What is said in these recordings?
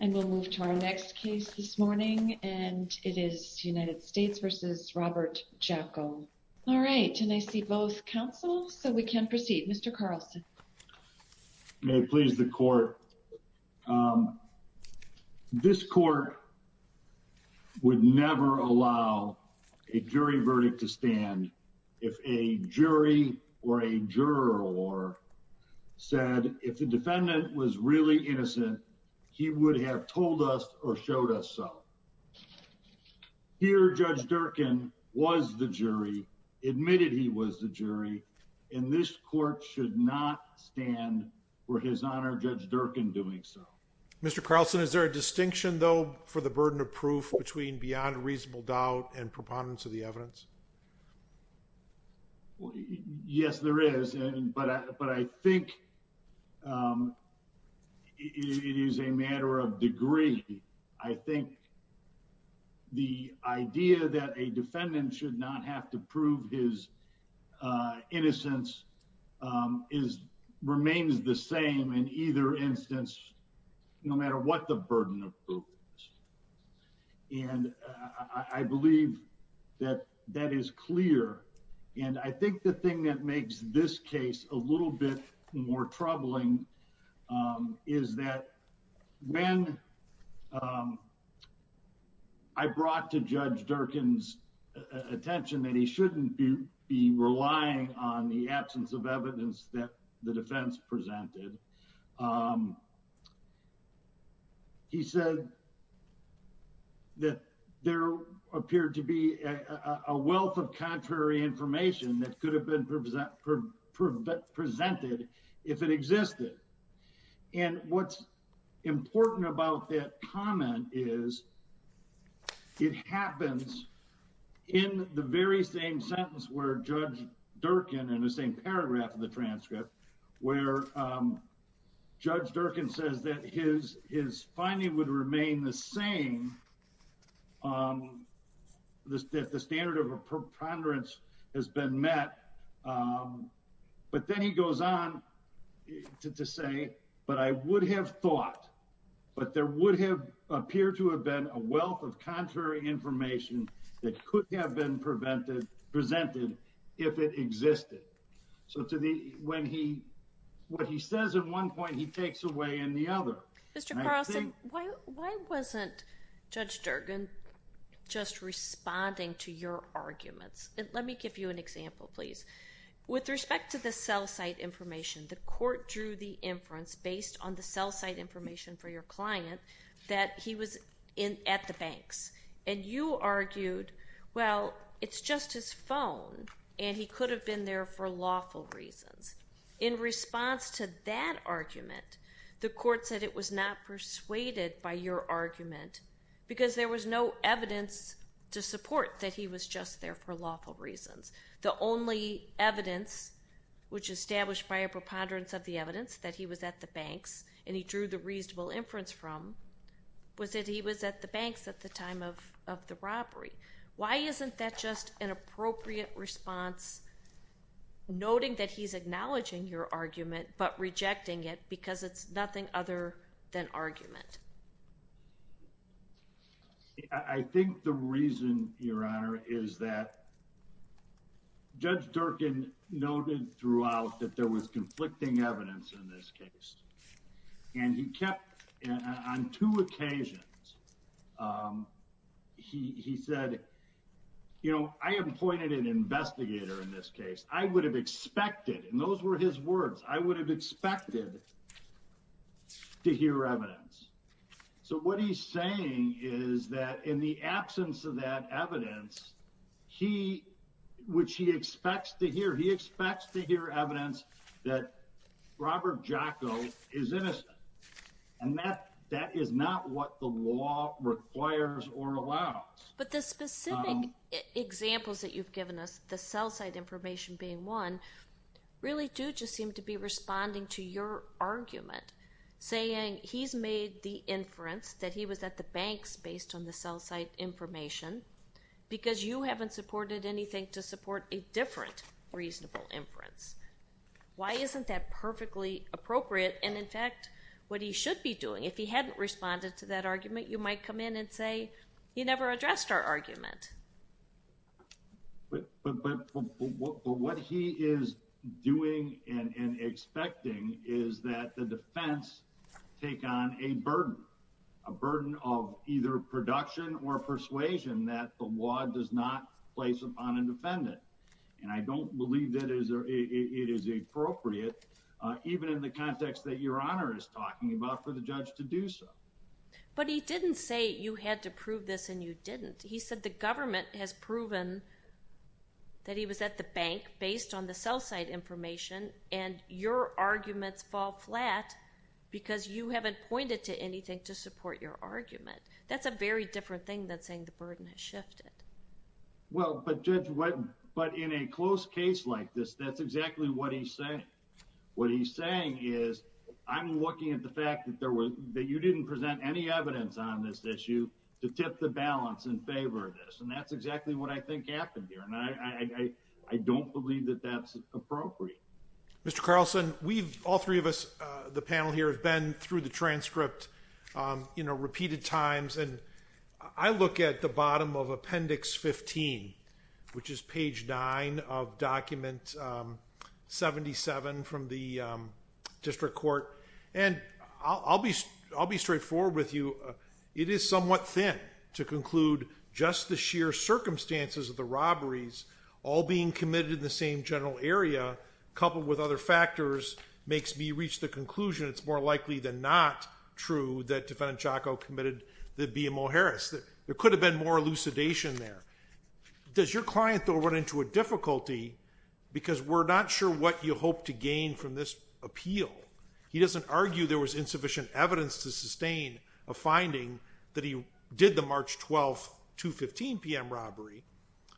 and we'll move to our next case this morning and it is United States v. Robert Jocko. All right and I see both counsel so we can proceed. Mr. Carlson. May it please the court. This court would never allow a jury verdict to stand if a he would have told us or showed us so. Here Judge Durkin was the jury admitted he was the jury and this court should not stand for his honor Judge Durkin doing so. Mr. Carlson is there a distinction though for the burden of proof between beyond reasonable doubt and preponderance of the matter of degree. I think the idea that a defendant should not have to prove his innocence is remains the same in either instance no matter what the burden of proof is. And I believe that that is clear and I think the thing that makes this case a little bit more troubling is that when I brought to Judge Durkin's attention that he shouldn't be be relying on the absence of evidence that the defense presented he said that there appeared to be a wealth of contrary information that could have been presented if it existed. And what's important about that comment is it happens in the very same sentence where Judge Durkin in the same paragraph of the transcript where Judge Durkin says that his his finding would remain the same um this that the standard of a preponderance has been met um but then he goes on to say but I would have thought but there would have appeared to have been a wealth of contrary information that could have been prevented presented if it existed. So to the when he what he says at one point he takes away in the other. Mr. Carlson why why wasn't Judge Durkin just responding to your arguments and let me give you an example please. With respect to the cell site information the court drew the inference based on the cell site information for your client that he was in at the banks and you argued well it's just his phone and he could have been there for lawful reasons. In response to that argument the court said it was not persuaded by your evidence to support that he was just there for lawful reasons. The only evidence which established by a preponderance of the evidence that he was at the banks and he drew the reasonable inference from was that he was at the banks at the time of of the robbery. Why isn't that just an appropriate response noting that he's acknowledging your argument but rejecting it because it's nothing other than argument. I think the reason your honor is that Judge Durkin noted throughout that there was conflicting evidence in this case and he kept on two occasions he he said you know I appointed an investigator in this case I would have expected and those were his words I would have expected to hear evidence. So what he's saying is that in the absence of that evidence he which he expects to hear he expects to hear evidence that Robert Jocko is innocent and that that is not what the law requires or allows. But the specific examples that you've given us the cell site information being one really do just seem to be responding to your argument saying he's made the inference that he was at the banks based on the cell site information because you haven't supported anything to support a different reasonable inference. Why isn't that perfectly appropriate and in fact what he should be doing if he hadn't responded to that argument you might come in and say he never addressed our argument. But what he is doing and expecting is that the defense take on a burden a burden of either production or persuasion that the law does not place upon a defendant and I don't believe that is it is appropriate even in the context that your honor is talking about for the judge to do so. But he didn't say you had to prove this and you didn't. He said the government has proven that he was at the bank based on the cell site information and your arguments fall flat because you haven't pointed to anything to support your argument. That's a very different thing than saying the burden has shifted. Well but judge what but in a close case like this that's exactly what he's saying. What he's saying is I'm looking at the fact that there was that you didn't present any evidence on this issue to tip the balance in favor of this and that's exactly what I think happened here and I don't believe that that's appropriate. Mr. Carlson we've all three of us the panel here have been through the transcript you know repeated times and I look at the bottom of appendix 15 which is page 9 of document 77 from the district court and I'll be straightforward with you it is somewhat thin to conclude just the sheer circumstances of the robberies all being committed in the same general area coupled with other factors makes me reach the conclusion it's more likely than not true that defendant Chaco committed the BMO Harris. There could have been more elucidation there. Does your client though run into a difficulty because we're not sure what you hope to gain from this appeal? He doesn't argue there was insufficient evidence to sustain a finding that he did the March 12th 2 15 p.m. robbery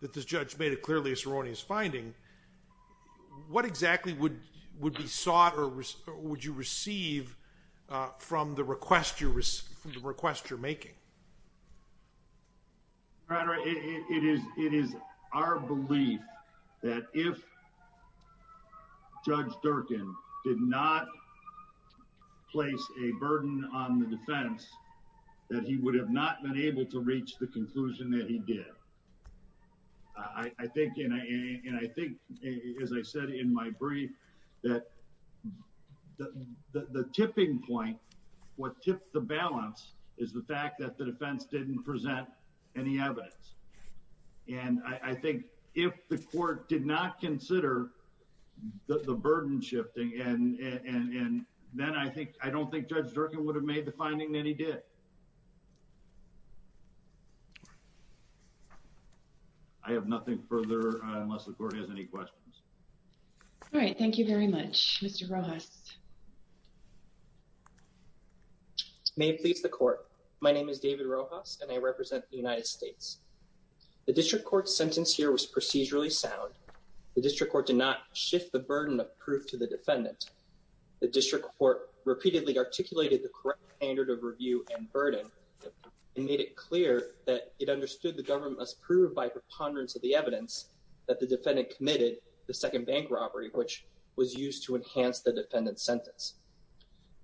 that this judge made it clearly a seronious finding. What exactly would would be sought or would you receive from the request request you're making? Your Honor it is it is our belief that if Judge Durkin did not place a burden on the defense that he would have not been able to reach the conclusion that he did. I think you know and I think as I said in my brief that the tipping point what tips the balance is the fact that the defense didn't present any evidence and I think if the court did not consider the burden shifting and and and then I think I don't think Judge Durkin would have made the case. I have nothing further unless the court has any questions. All right thank you very much Mr. Rojas. May it please the court my name is David Rojas and I represent the United States. The district court sentence here was procedurally sound. The district court did not shift the burden of proof to the defendant. The district court repeatedly articulated the correct standard of burden and made it clear that it understood the government must prove by preponderance of the evidence that the defendant committed the second bank robbery which was used to enhance the defendant's sentence.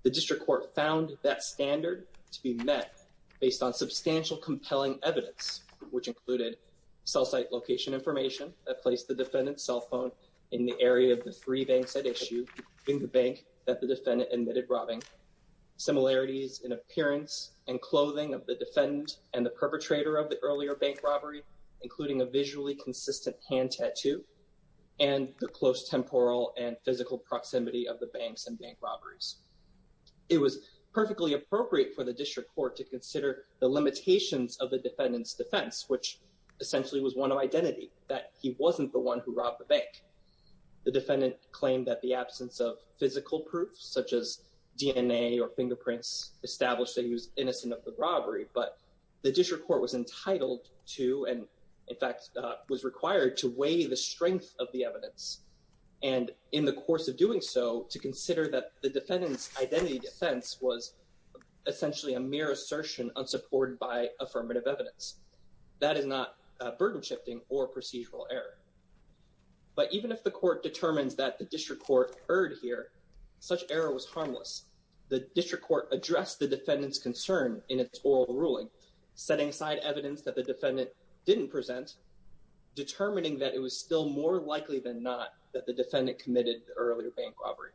The district court found that standard to be met based on substantial compelling evidence which included cell site location information that placed the defendant's cell phone in the area of the three banks at issue in the bank that the defendant admitted robbing. Similarities in appearance and clothing of the defendant and the perpetrator of the earlier bank robbery including a visually consistent hand tattoo and the close temporal and physical proximity of the banks and bank robberies. It was perfectly appropriate for the district court to consider the limitations of the defendant's defense which essentially was one of identity that he wasn't the one who robbed the bank. The defendant claimed that the absence of physical proof such as DNA or fingerprints established that he was innocent of the robbery but the district court was entitled to and in fact was required to weigh the strength of the evidence and in the course of doing so to consider that the defendant's identity defense was essentially a mere assertion unsupported by affirmative evidence. That is not burden shifting or procedural error. But even if the court the district court addressed the defendant's concern in its oral ruling setting aside evidence that the defendant didn't present determining that it was still more likely than not that the defendant committed the earlier bank robbery.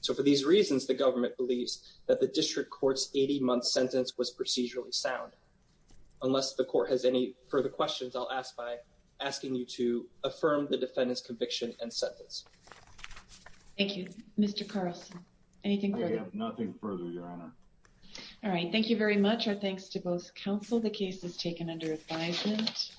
So for these reasons the government believes that the district court's 80-month sentence was procedurally sound. Unless the court has any further questions I'll ask by asking you to affirm the defendant's conviction and sentence. Thank you. Mr. Carlson I have nothing further your honor. All right thank you very much. Our thanks to both counsel. The case is taken under advisement.